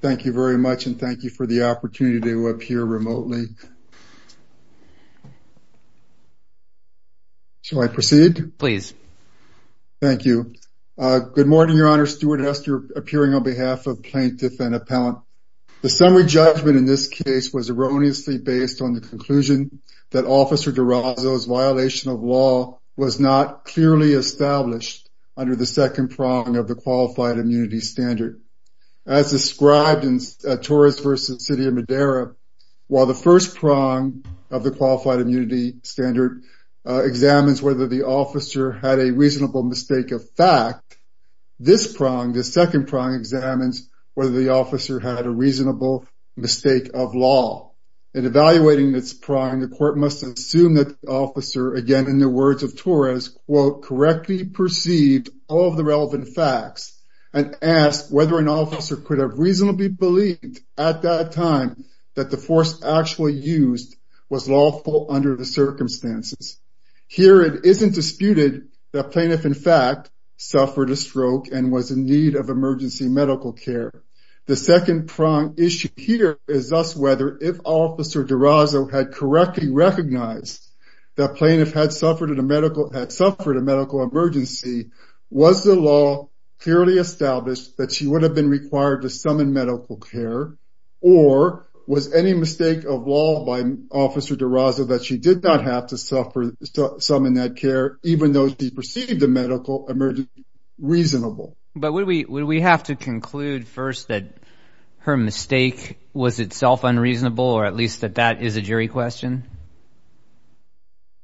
Thank you very much and thank you for the opportunity to appear remotely. Shall I proceed? Please. Thank you. Good morning, Your Honor. Stuart Hester, appearing on behalf of plaintiff and appellant. The summary judgment in this case was erroneously based on the conclusion that Officer DeRozo's violation of law was not clearly established under the second prong of the Qualified Immunity Standard. As described in Torres v. City of Madera, while the first prong of the Qualified Immunity Standard examines whether the officer had a reasonable mistake of fact, this prong, the second prong, examines whether the officer had a reasonable mistake of law. In evaluating this prong, the court must assume that the officer, again in the words of Torres, quote, correctly perceived all of the relevant facts and asked whether an officer could have reasonably believed at that time that the force actually used was lawful under the circumstances. Here, it isn't disputed that plaintiff, in fact, suffered a stroke and was in need of emergency medical care. The second prong issue here is thus whether if DeRozo had correctly recognized that plaintiff had suffered a medical emergency, was the law clearly established that she would have been required to summon medical care, or was any mistake of law by Officer DeRozo that she did not have to summon that care, even though she perceived the medical emergency reasonable? But would we have to conclude first that her mistake was itself unreasonable, or at least that that is a jury question?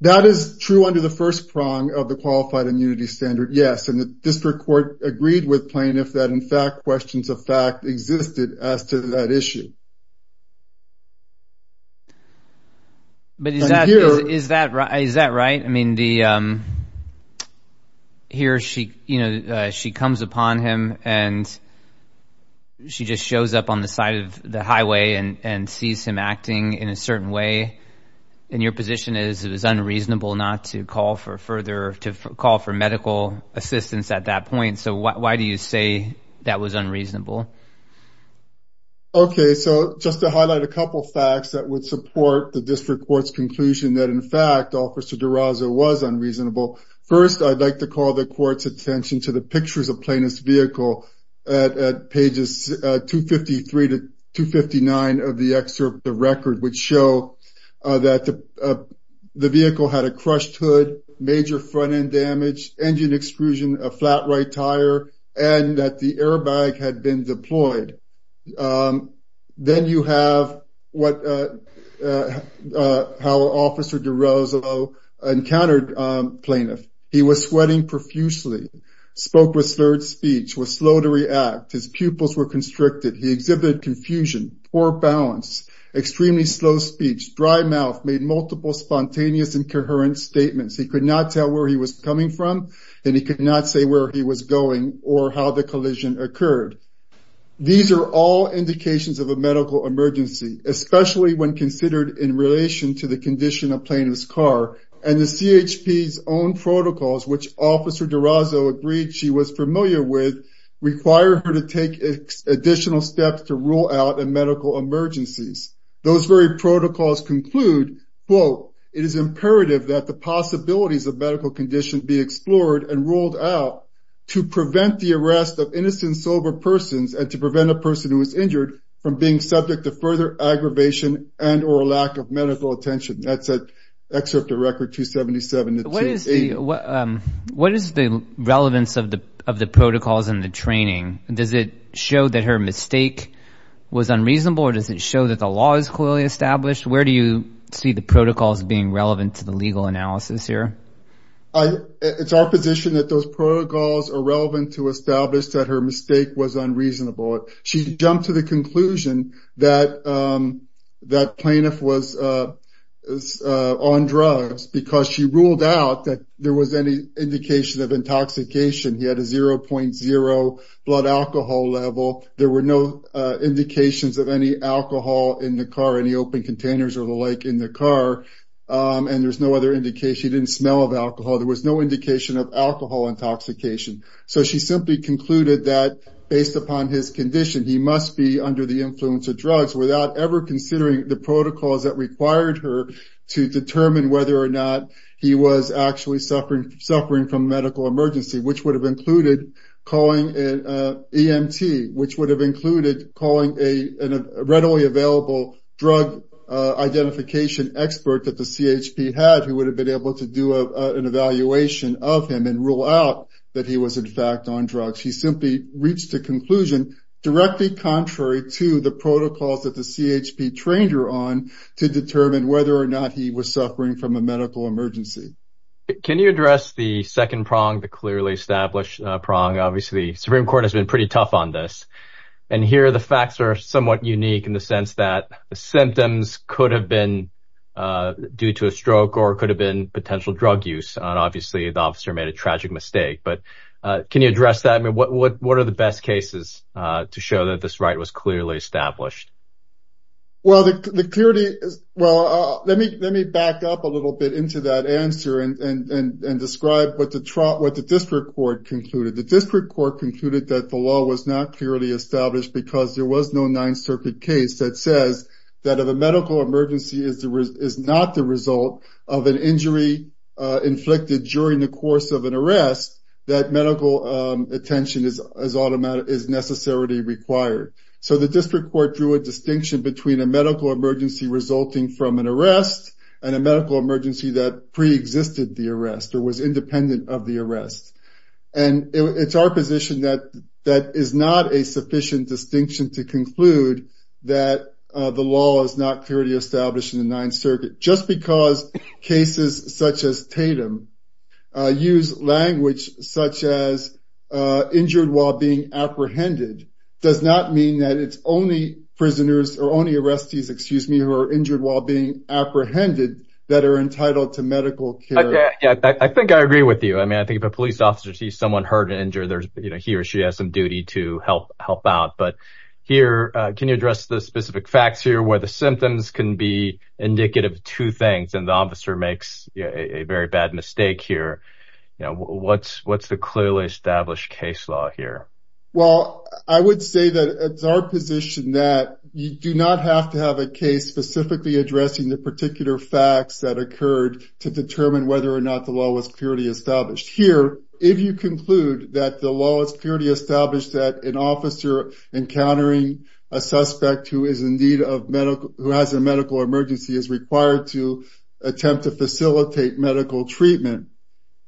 That is true under the first prong of the Qualified Immunity Standard, yes, and the district court agreed with plaintiff that, in fact, questions of fact existed as to that issue. But is that is that right? Is that right? I mean, the here, she, you know, she comes upon him and she just shows up on the side of the highway and sees him acting in a certain way. And your position is it was unreasonable not to call for further to call for medical assistance at that couple facts that would support the district court's conclusion that, in fact, Officer DeRozo was unreasonable. First, I'd like to call the court's attention to the pictures of plaintiff's vehicle at pages 253 to 259 of the excerpt. The record would show that the vehicle had a crushed hood, major front end damage, engine extrusion, a flat right tire, and that the airbag had been deployed. Then you have what how Officer DeRozo encountered plaintiff. He was sweating profusely, spoke with slurred speech, was slow to react, his pupils were constricted, he exhibited confusion, poor balance, extremely slow speech, dry mouth, made multiple spontaneous and coherent statements. He could not tell where he was coming from, and he could not say where he was going or how the collision occurred. These are all indications of a medical emergency, especially when considered in relation to the condition of plaintiff's car. And the CHP's own protocols, which Officer DeRozo agreed she was familiar with, require her to take additional steps to rule out a medical emergencies. Those very protocols conclude, quote, it is imperative that the possibilities of medical conditions be explored and ruled out to prevent the arrest of innocent sober persons and to prevent a person who is injured from being subject to further aggravation and or a lack of medical attention. That's an excerpt of Record 277. What is the relevance of the of the protocols and the training? Does it show that her mistake was unreasonable or does it show that the law is clearly established? Where do you see the protocols being relevant to the legal analysis here? It's our position that those protocols are relevant to establish that her mistake was unreasonable. She jumped to the conclusion that that plaintiff was on drugs because she ruled out that there was any indication of intoxication. He had a 0.0 blood alcohol level. There were no indications of any alcohol in the car, any open containers or in the car, and there's no other indication. He didn't smell of alcohol. There was no indication of alcohol intoxication. So she simply concluded that based upon his condition, he must be under the influence of drugs without ever considering the protocols that required her to determine whether or not he was actually suffering from medical emergency, which would have included calling an EMT, which would have included calling a readily available drug identification expert that the CHP had, who would have been able to do an evaluation of him and rule out that he was in fact on drugs. He simply reached a conclusion directly contrary to the protocols that the CHP trained her on to determine whether or not he was suffering from a medical emergency. Can you address the second prong, the clearly established prong? Obviously, Supreme Court has been pretty tough on this, and here the facts are somewhat unique in the sense that the symptoms could have been due to a stroke or could have been potential drug use. Obviously, the officer made a tragic mistake, but can you address that? I mean, what are the best cases to show that this right was clearly established? Well, let me back up a little bit into that answer and describe what the district court concluded. The district court concluded that the law was not clearly established because there was no Ninth Circuit case that says that if a medical emergency is not the result of an injury inflicted during the course of an arrest, that medical attention is necessarily required. So the district court drew a distinction between a medical emergency resulting from an arrest and a medical emergency that pre-existed the arrest or was independent of the arrest. And it's our position that that is not a sufficient distinction to conclude that the law is not clearly established in the Ninth Circuit. Just because cases such as Tatum use language such as injured while being apprehended does not mean that it's only prisoners or only arrestees, excuse me, who are injured while being apprehended that are entitled to medical care. I think I agree with you. I mean, I think if a police officer sees someone hurt and injured, there's, you know, he or she has some duty to help out. But here, can you address the specific facts here where the symptoms can be indicative of two things and the officer makes a very bad mistake here? You know, what's the clearly established case law here? Well, I would say that it's our position that you do not have to have a case specifically addressing the particular facts that occurred to determine whether or not the law was clearly established. Here, if you conclude that the law is clearly established that an officer encountering a suspect who is in need of medical, who has a medical emergency is required to attempt to facilitate medical treatment,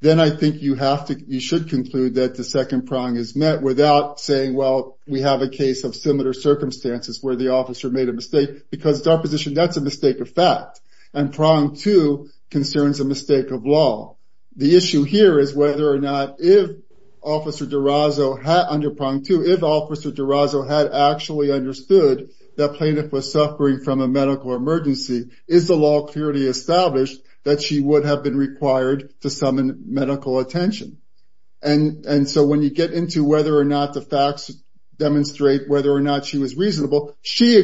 then I think you have to, you should conclude that the second prong is met without saying, well, we have a case of similar circumstances where the officer made a mistake because it's our position that's a mistake of fact. And prong two concerns a mistake of law. The issue here is whether or not if Officer Durazo had, under prong two, if Officer Durazo had actually understood that plaintiff was suffering from a medical emergency, is the law clearly established that she would have been required to summon medical attention? And so when you get into whether or not the facts demonstrate whether or not she was reasonable, she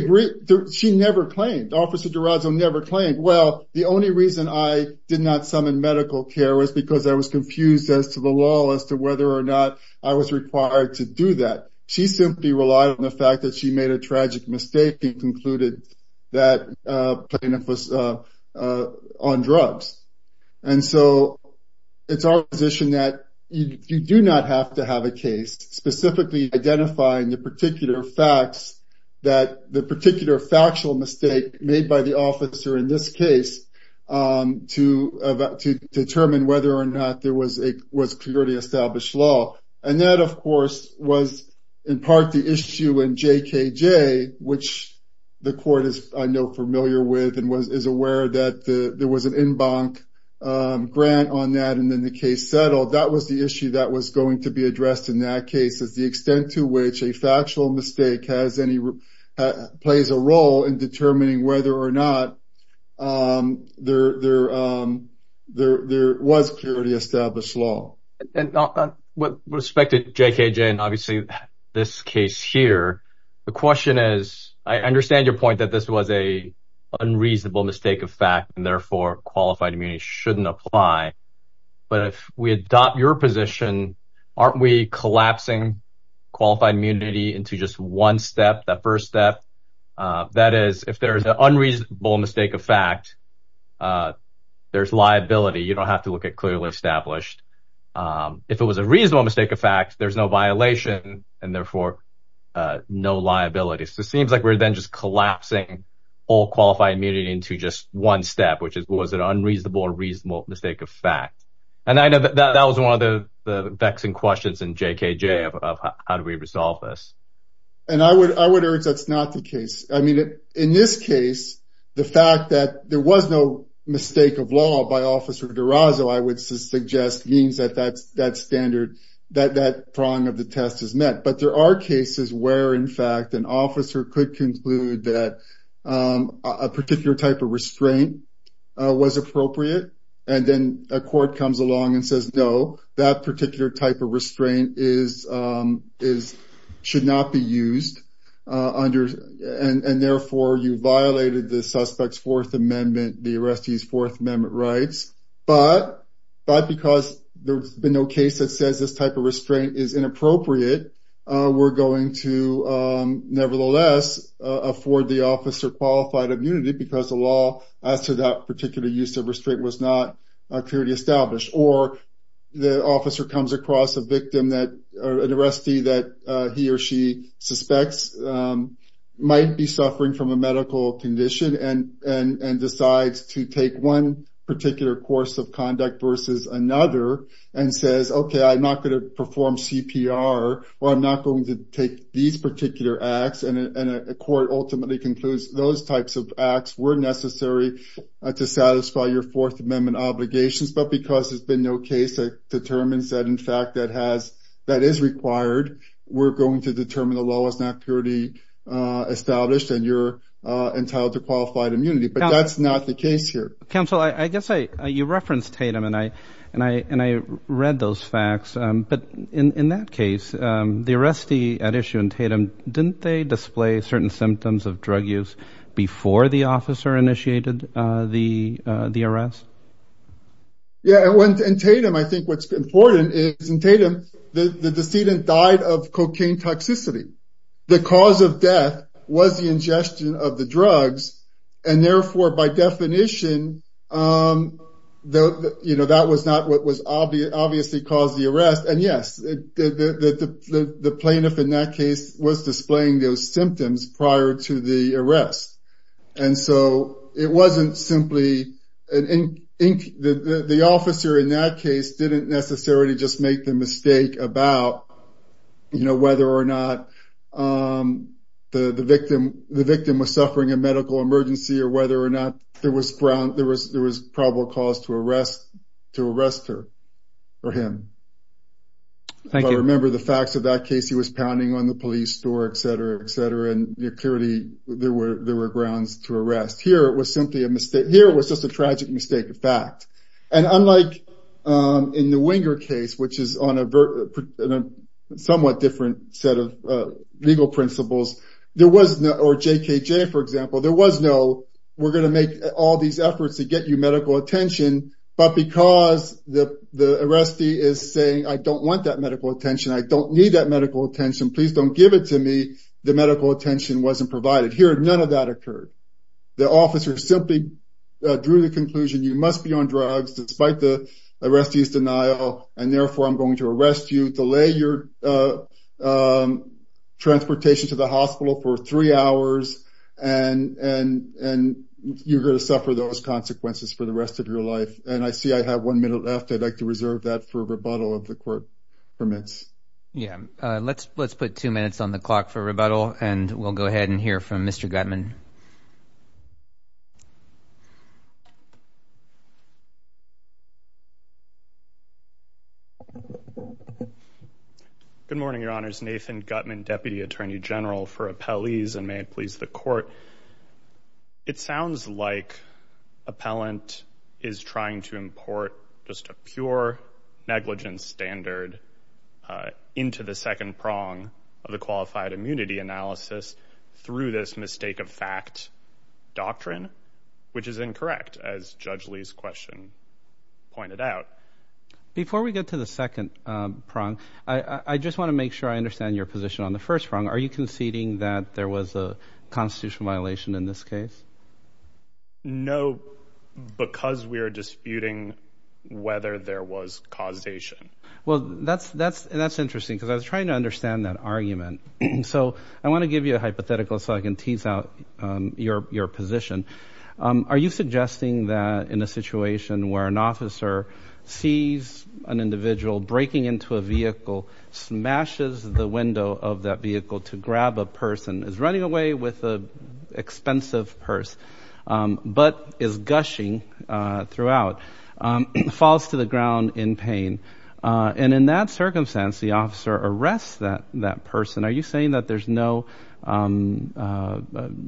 never claimed, Officer Durazo never claimed, well, the only reason I did not summon medical care was because I was confused as to the law as to whether or not I was required to do that. She simply relied on the fact that she made a tragic mistake and concluded that plaintiff was on drugs. And so it's our position that you do not have to have a case specifically identifying the particular facts that the particular factual mistake made by the officer in this case to determine whether or not there was clearly established law. And that, of course, was in part the issue in JKJ, which the court is, I know, familiar with and is aware that there was an en banc grant on that. And then the case settled. That was the issue that was going to be addressed in that case is the extent to which a factual mistake has any plays a role in determining whether or not there was clearly established law. And with respect to JKJ and obviously this case here, the question is, I understand your point that this was a unreasonable mistake of fact and therefore qualified immunity shouldn't apply. But if we adopt your position, aren't we collapsing qualified immunity into just one step, that first step? That is, if there is an unreasonable mistake of fact, there's liability. You don't have to look at clearly established. If it was a reasonable mistake of fact, there's no violation and therefore no liability. So it seems like we're then just collapsing all qualified immunity into just one step, which was an unreasonable or reasonable mistake of fact. And I know that that was one of the vexing questions in JKJ of how do we resolve this? And I would urge that's not the case. I mean, in this case, the fact that there was no mistake of law by officer Durazo, I would suggest means that that's that standard, that that prong of the test is met. But there are cases where, in fact, an officer could conclude that a particular type of restraint was appropriate. And then a court comes along and says, no, that particular type of restraint should not be used under and therefore you violated the suspect's Fourth Amendment, the arrestee's Fourth Amendment rights. But because there's been no case that says this type of restraint is inappropriate, we're going to nevertheless afford the officer qualified immunity because the law as to that particular use of restraint was not clearly established. Or the officer comes across a arrestee that he or she suspects might be suffering from a medical condition and decides to take one particular course of conduct versus another and says, OK, I'm not going to perform CPR or I'm not going to take these particular acts. And a court ultimately concludes those types of acts were necessary to satisfy your Fourth Amendment obligations. But because there's no case that determines that, in fact, that has that is required, we're going to determine the law is not clearly established and you're entitled to qualified immunity. But that's not the case here. Counsel, I guess you referenced Tatum and I and I and I read those facts. But in that case, the arrestee at issue in Tatum, didn't they display certain symptoms of drug use before the officer initiated the the arrest? Yeah, I went in Tatum. I think what's important is in Tatum the decedent died of cocaine toxicity. The cause of death was the ingestion of the drugs and therefore, by definition, though, you know, that was not what was obvious, obviously caused the arrest. And yes, the plaintiff in that case was displaying those symptoms prior to the arrest. And so it wasn't simply an ink. The officer in that case didn't necessarily just make the mistake about, you know, whether or not the victim, the victim was suffering a medical emergency or whether or not there was ground there was there was probable cause to arrest to arrest her or him. I remember the facts of that case, he was pounding on the police door, etc, etc. And clearly, there were there were grounds to arrest here was simply a mistake here was just a tragic mistake of fact. And unlike in the winger case, which is on a somewhat different set of legal principles, there was no or JKJ, for example, there was no, we're going to make all these efforts to get you medical attention. But because the the arrestee is saying, I don't want that medical attention, I don't need that medical attention, please don't give it to me. The provided here, none of that occurred. The officer simply drew the conclusion, you must be on drugs, despite the arrestees denial, and therefore I'm going to arrest you delay your transportation to the hospital for three hours. And and and you're going to suffer those consequences for the rest of your life. And I see I have one minute left. I'd like to reserve that for rebuttal of the court permits. Yeah, let's let's put two minutes on the clock for rebuttal. And we'll go ahead and hear from Mr Gutman. Good morning, Your Honor's Nathan Gutman, deputy attorney general for appellees and may it please the court. It sounds like appellant is trying to import just a pure negligence standard uh into the second prong of the qualified immunity analysis through this mistake of fact doctrine, which is incorrect as Judge Lee's question pointed out. Before we get to the second um prong, I I just want to make sure I understand your position on the first prong. Are you conceding that there was a constitutional violation in this case? No, because we are disputing whether there was causation. Well, that's that's that's interesting because I was trying to understand that argument. So I want to give you a hypothetical so I can tease out your your position. Are you suggesting that in a situation where an officer sees an individual breaking into a vehicle smashes the window of that vehicle to grab a person is running away with a expensive purse um but is gushing uh throughout um falls to the ground in pain uh and in that circumstance the officer arrests that that person. Are you saying that there's no um uh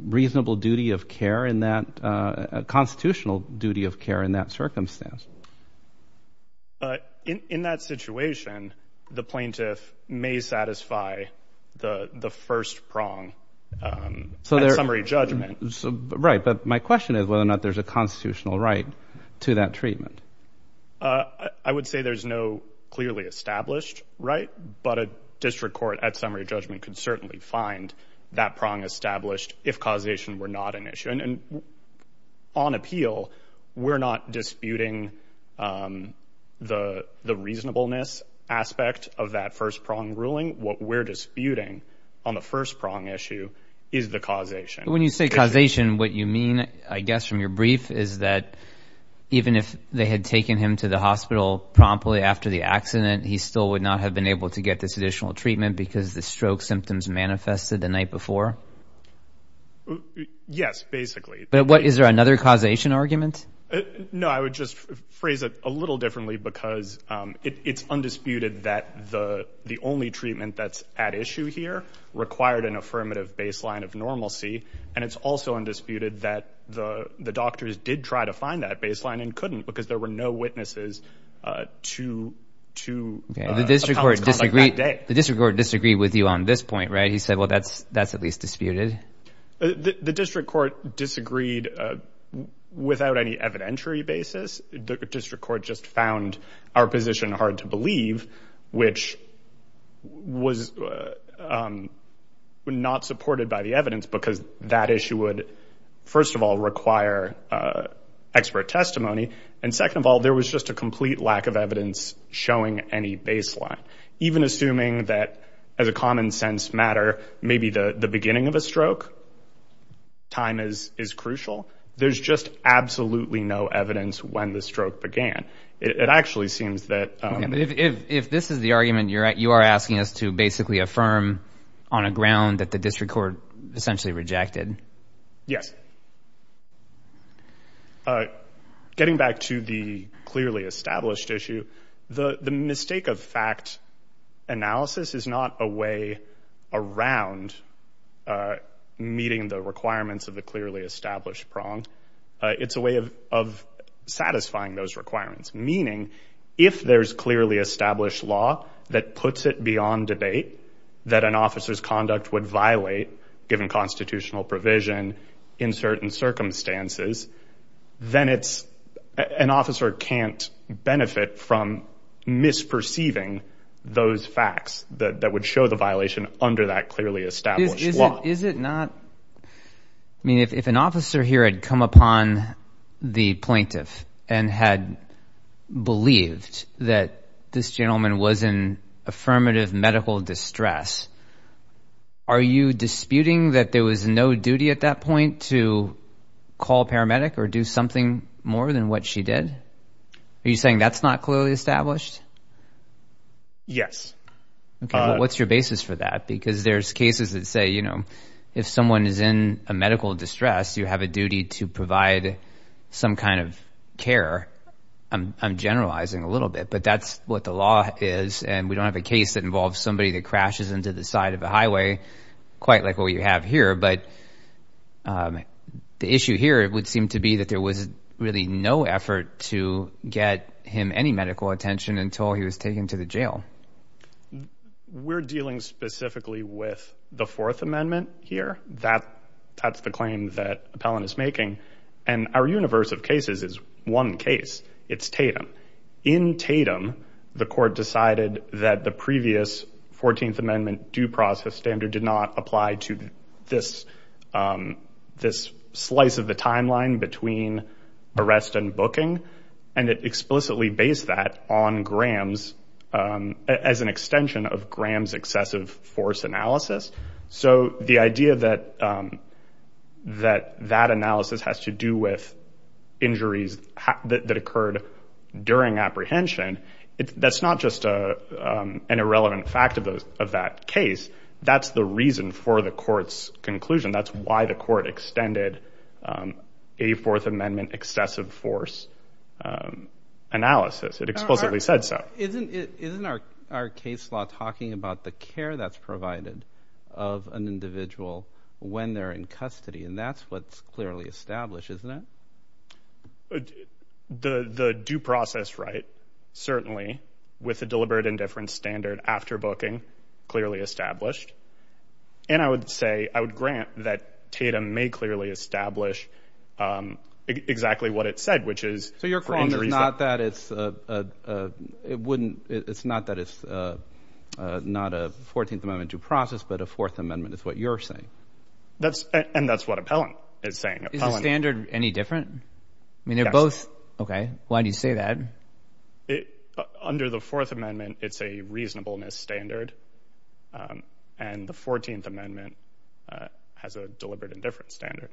reasonable duty of care in that uh constitutional duty of care in that circumstance? In that situation, the plaintiff may satisfy the the first prong um summary judgment. Right. But my question is whether or not there's a constitutional right to that treatment. Uh I would say there's no clearly established right but a district court at summary judgment could certainly find that prong established if causation were not an issue and on appeal we're not disputing um the the reasonableness aspect of that first prong ruling what we're disputing on the first prong issue is the causation. When you say causation what you mean I guess from your brief is that even if they had taken him to the hospital promptly after the accident he still would not have been able to get this additional treatment because the stroke symptoms manifested the night before. Yes, basically. But what is there another causation argument? No, I would just phrase a little differently because um it's undisputed that the the only treatment that's at issue here required an affirmative baseline of normalcy and it's also undisputed that the the doctors did try to find that baseline and couldn't because there were no witnesses uh to to the district court disagreed with you on this point right he said well that's that's at least just found our position hard to believe which was um not supported by the evidence because that issue would first of all require uh expert testimony and second of all there was just a complete lack of evidence showing any baseline even assuming that as a common sense matter maybe the the beginning of a stroke time is is crucial there's just absolutely no evidence when the stroke began it actually seems that um if if this is the argument you're at you are asking us to basically affirm on a ground that the district court essentially rejected yes uh getting back to the clearly established issue the the mistake of fact analysis is not a way around uh meeting the requirements of the clearly established prong it's a way of of satisfying those requirements meaning if there's clearly established law that puts it beyond debate that an officer's conduct would violate given constitutional provision in certain circumstances then it's an officer can't benefit from misperceiving those facts that that would show the violation under that clearly established law is it not i mean if an officer here had come upon the plaintiff and had believed that this gentleman was in affirmative medical distress are you disputing that there was no duty at that point to call a paramedic or do something more than what she did are you saying that's not clearly established yes okay what's your basis for that because there's cases that say you know if someone is in a medical distress you have a duty to provide some kind of care i'm generalizing a little bit but that's what the law is and we don't have a case that involves somebody that crashes into the side of a highway quite like what you have here but the issue here it would seem to be that there was really no effort to get him any medical attention until he was taken to the jail we're dealing specifically with the fourth amendment here that that's the claim that appellant is making and our universe of cases is one case it's tatum in tatum the court decided that the previous 14th amendment due process standard did not apply to this this slice of the timeline between arrest and booking and it explicitly based that on grams as an extension of grams excessive force analysis so the idea that that that analysis has to do with injuries that occurred during apprehension it that's not just a an irrelevant fact of those of that case that's the reason for the court's conclusion that's why the court extended a fourth amendment excessive force analysis it explicitly said so isn't it isn't our our case law talking about the care that's provided of an individual when they're in custody and that's what's clearly established isn't it the the due process right certainly with a deliberate indifference standard after booking clearly established and i would say i would grant that tatum may clearly establish um exactly what it said which is so you're calling there's not that it's uh uh it wouldn't it's not that it's uh uh not a 14th amendment due process but a fourth amendment is what you're saying that's and that's what appellant is saying standard any different i mean they're both okay why do you say that it under the fourth amendment it's a reasonableness standard um and the 14th amendment uh has a deliberate indifference standard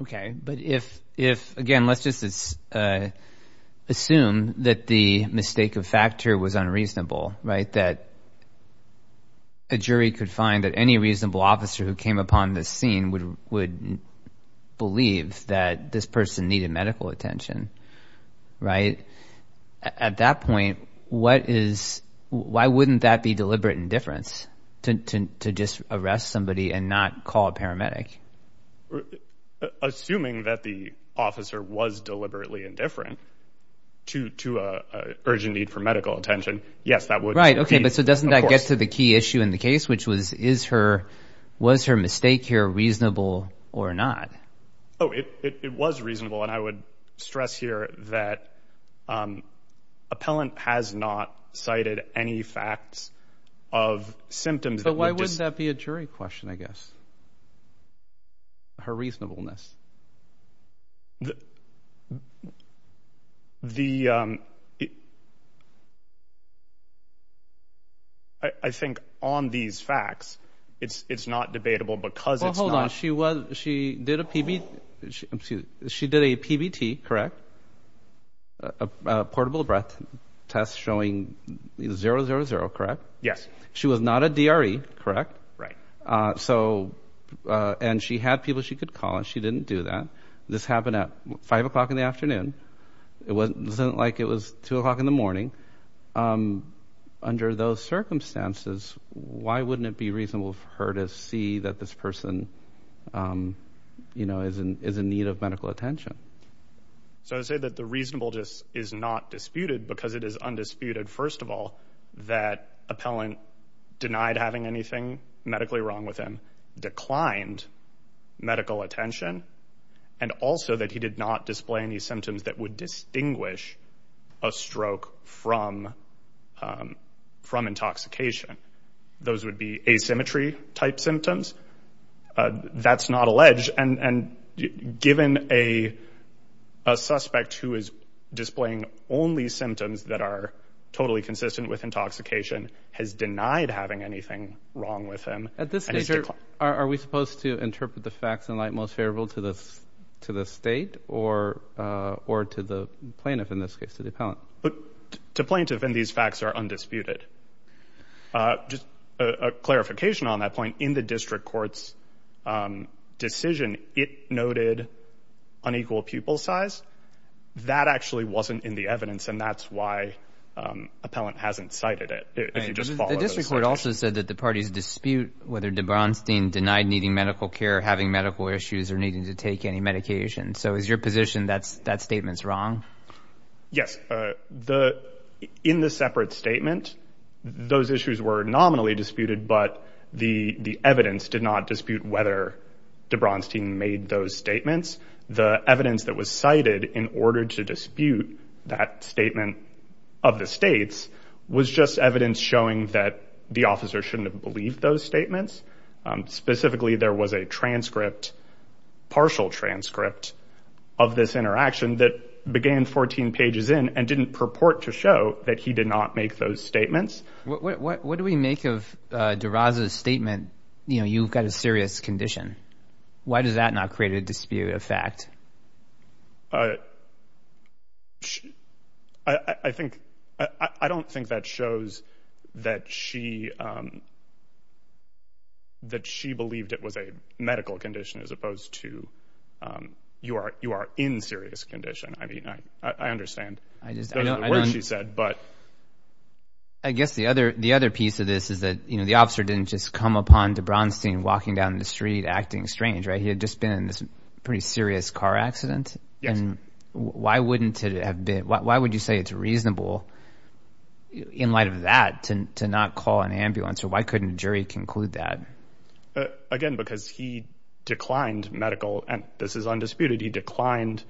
okay but if if again let's just uh assume that the mistake of factor was unreasonable right that a jury could find that any reasonable officer who came upon this scene would would believe that this person needed medical attention right at that point what is why wouldn't that be deliberate indifference to to just arrest somebody and not call a paramedic assuming that the officer was deliberately indifferent to to a urgent need for medical attention yes that would right okay but so doesn't that get to the key issue in the case which was is her was her mistake here reasonable or not oh it it was reasonable and i would stress here that um appellant has not cited any facts of symptoms so why wouldn't that be a jury question i guess her reasonableness the um it i i think on these facts it's it's not debatable because it's not hold on she was she did a pb she did a pbt correct a portable breath test showing zero zero zero correct yes she was not a dre correct right uh so uh and she had people she could call and she didn't do that this happened at five o'clock in the afternoon it wasn't like it was two o'clock in the morning um under those circumstances why wouldn't it be reasonable for her to see that this person um you know is in is in need of medical attention so i would say that the reasonable just is not disputed because it is undisputed first of all that appellant denied having anything medically wrong with him declined medical attention and also that he did not display any symptoms that would distinguish a stroke from um from intoxication those would be asymmetry type symptoms uh that's not alleged and and given a a suspect who is displaying only symptoms that are totally consistent with intoxication has denied having anything wrong with him at this stage are we supposed to interpret the facts in light most favorable to this to the state or uh or to the plaintiff in this case to the appellant but to plaintiff and these facts are undisputed uh just a clarification on that point in the district court's um decision it noted unequal pupil size that actually wasn't in the evidence and that's why um appellant hasn't cited it if you just follow the district court also said that the parties dispute whether debronstein denied needing medical care having medical issues or needing to take any medication so is your position that's that statement's wrong yes uh the in the separate statement those issues were nominally disputed but the the evidence did not dispute whether debronstein made those statements the evidence that was cited in order to dispute that statement of the states was just evidence showing that the officer shouldn't have believed those statements um specifically there was a transcript partial transcript of this interaction that began 14 pages in and didn't purport to show that he did not make those statements what what what do we make of uh derosa's statement you know you've got a serious condition why does that not create a dispute of fact uh i i think i i don't think that shows that she um that she believed it was a medical condition as opposed to um you are you are in serious condition i mean i i understand i just don't know what she said but i guess the other the other piece of this is that you know the officer didn't just come upon debronstein walking down the street acting strange right he had just been in this pretty serious car accident and why wouldn't it have been why would you say it's reasonable in light of that to to not call an ambulance or why couldn't the jury conclude that again because he declined medical and this is undisputed he declined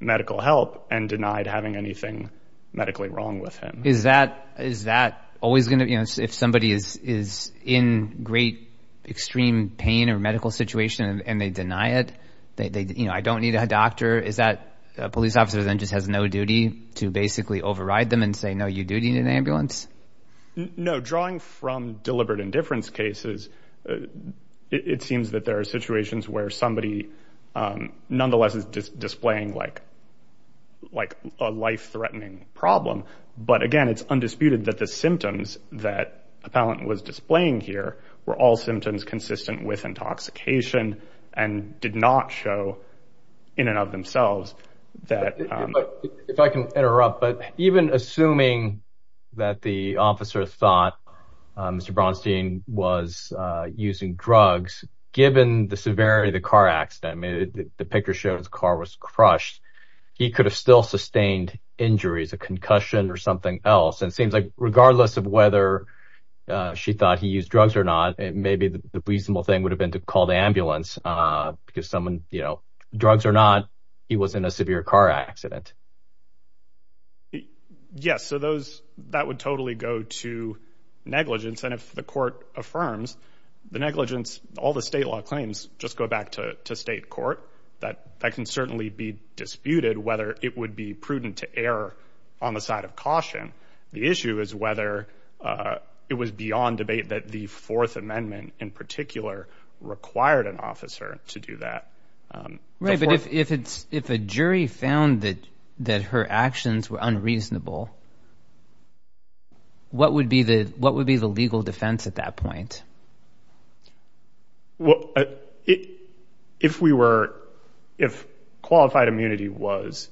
medical help and denied having anything medically wrong with him is that is that always going to you know if somebody is is in great extreme pain or medical situation and they deny it they you know i don't need a doctor is that a police officer then just has no duty to basically override them and say no you do need an ambulance no drawing from deliberate indifference cases it seems that there are situations where somebody um nonetheless is displaying like like a life-threatening problem but again it's undisputed that the symptoms that appellant was displaying here were all symptoms consistent with intoxication and did not show in and of themselves that if i can interrupt but even assuming that the officer thought mr bronstein was uh using drugs given the severity of the car accident i mean the picture showed his car was crushed he could have still sustained injuries a concussion or something else and seems like regardless of whether uh she thought he used drugs or not it may be the reasonable thing would have been to call the ambulance uh because someone you know drugs or not he was in a severe car accident yes so those that would totally go to negligence and if the court affirms the negligence all the state law claims just go back to to state court that that can certainly be disputed whether it would be prudent to err on the side of caution the issue is whether uh it was beyond debate that the fourth amendment in particular required an officer to do that right but if if it's if a jury found that that her actions were unreasonable what would be the what would be the legal defense at that point well if we were if qualified immunity was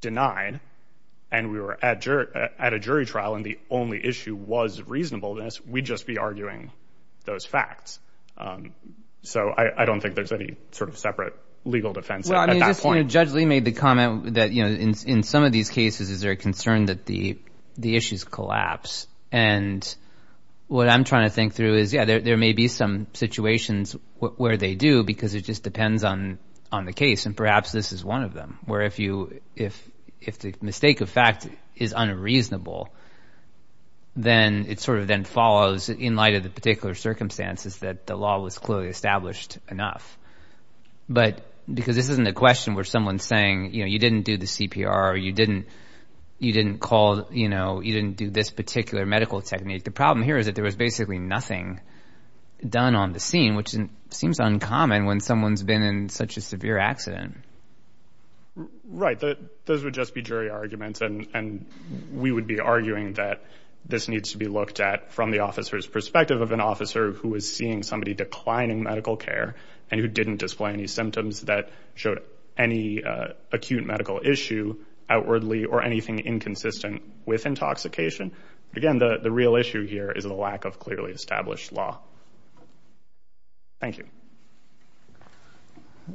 denied and we were at jerk at a jury trial and the only issue was reasonableness we'd just be arguing those facts um so i i don't think there's any sort of separate legal defense at that point judge lee made the comment that you know in in some of these cases is there a concern that the the issues collapse and what i'm trying to think through is yeah there may be some situations where they do because it just depends on on the case and perhaps this is one of them where if you if if the mistake of fact is unreasonable then it sort of then follows in light of the particular circumstances that the law was clearly established enough but because this isn't a question where someone's saying you know you didn't do the cpr or you didn't you didn't call you know you didn't do this particular medical technique the problem here is that there was basically nothing done on the scene which seems uncommon when someone's been in such a severe accident right that those would just be jury arguments and and we would be arguing that this needs to be looked at from the officer's perspective of an officer who was seeing somebody declining medical care and who didn't display any symptoms that showed any acute medical issue outwardly or anything inconsistent with intoxication again the the real issue here is the lack of clearly established law thank you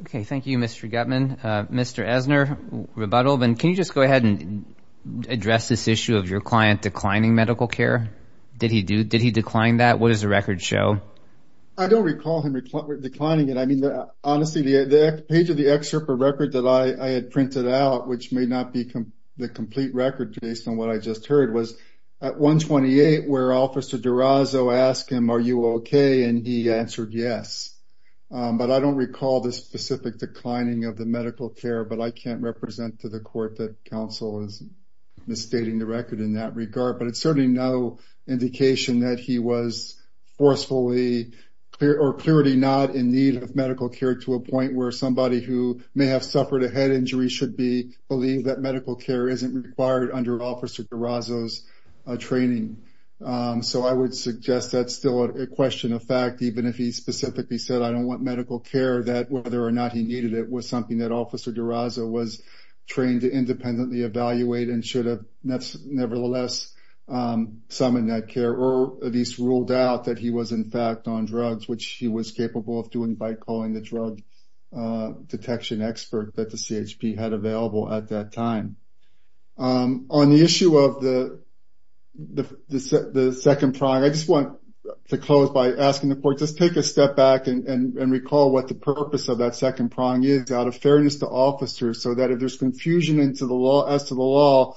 okay thank you mr gutman uh mr ezner rebuttal then can you just go ahead and address this issue of your client declining medical care did he do did he decline that what does the record show i don't recall him declining it i mean honestly the the page of the excerpt of record that i i had printed out which may not be the complete record based on what i just heard was at 128 where officer dorazo asked him are you okay and he answered yes but i don't recall the specific declining of the medical care but i can't represent to the court that council is misstating the record in that regard but it's certainly no indication that he was forcefully clear or clearly not in need of medical care to a point where somebody who may have suffered a head injury should be believed that medical care isn't required under officer dorazo's training so i would suggest that's still a question of fact even if he specifically said i don't want medical care that whether or not he needed it was something that officer dorazo was trained to independently evaluate and should have nevertheless summoned that care or at least ruled out that he was in fact on drugs which he was capable of doing by calling the drug detection expert that the chp had available at that time on the issue of the the the second prong i just want to close by asking the court just take a step back and and recall what the purpose of that second prong is out of fairness to officers so that if there's confusion into the law as to the law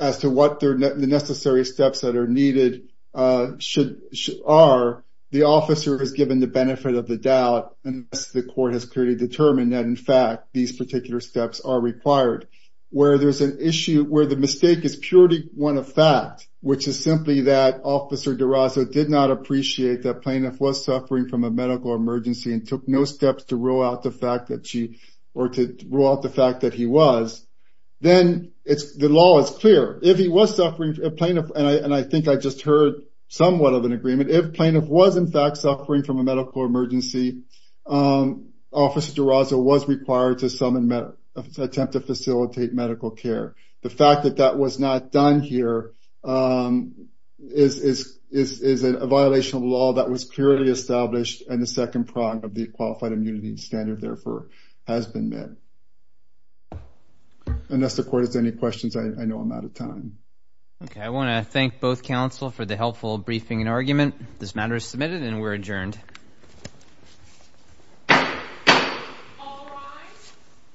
as to what they're the necessary steps that are needed uh should are the officer has given the benefit of the doubt and the court has clearly determined that in fact these particular steps are required where there's an issue where the mistake is purely one of fact which is simply that officer dorazo did not appreciate that plaintiff was suffering from a medical emergency and took no steps to rule out the fact that she or to rule out the fact that then it's the law is clear if he was suffering a plaintiff and i and i think i just heard somewhat of an agreement if plaintiff was in fact suffering from a medical emergency um officer dorazo was required to summon a attempt to facilitate medical care the fact that that was not done here um is is is a violation of law that was clearly established and the second prong of the qualified immunity standard therefore has been met unless the court has any questions i know i'm out of time okay i want to thank both council for the helpful briefing and argument this matter is submitted and we're adjourned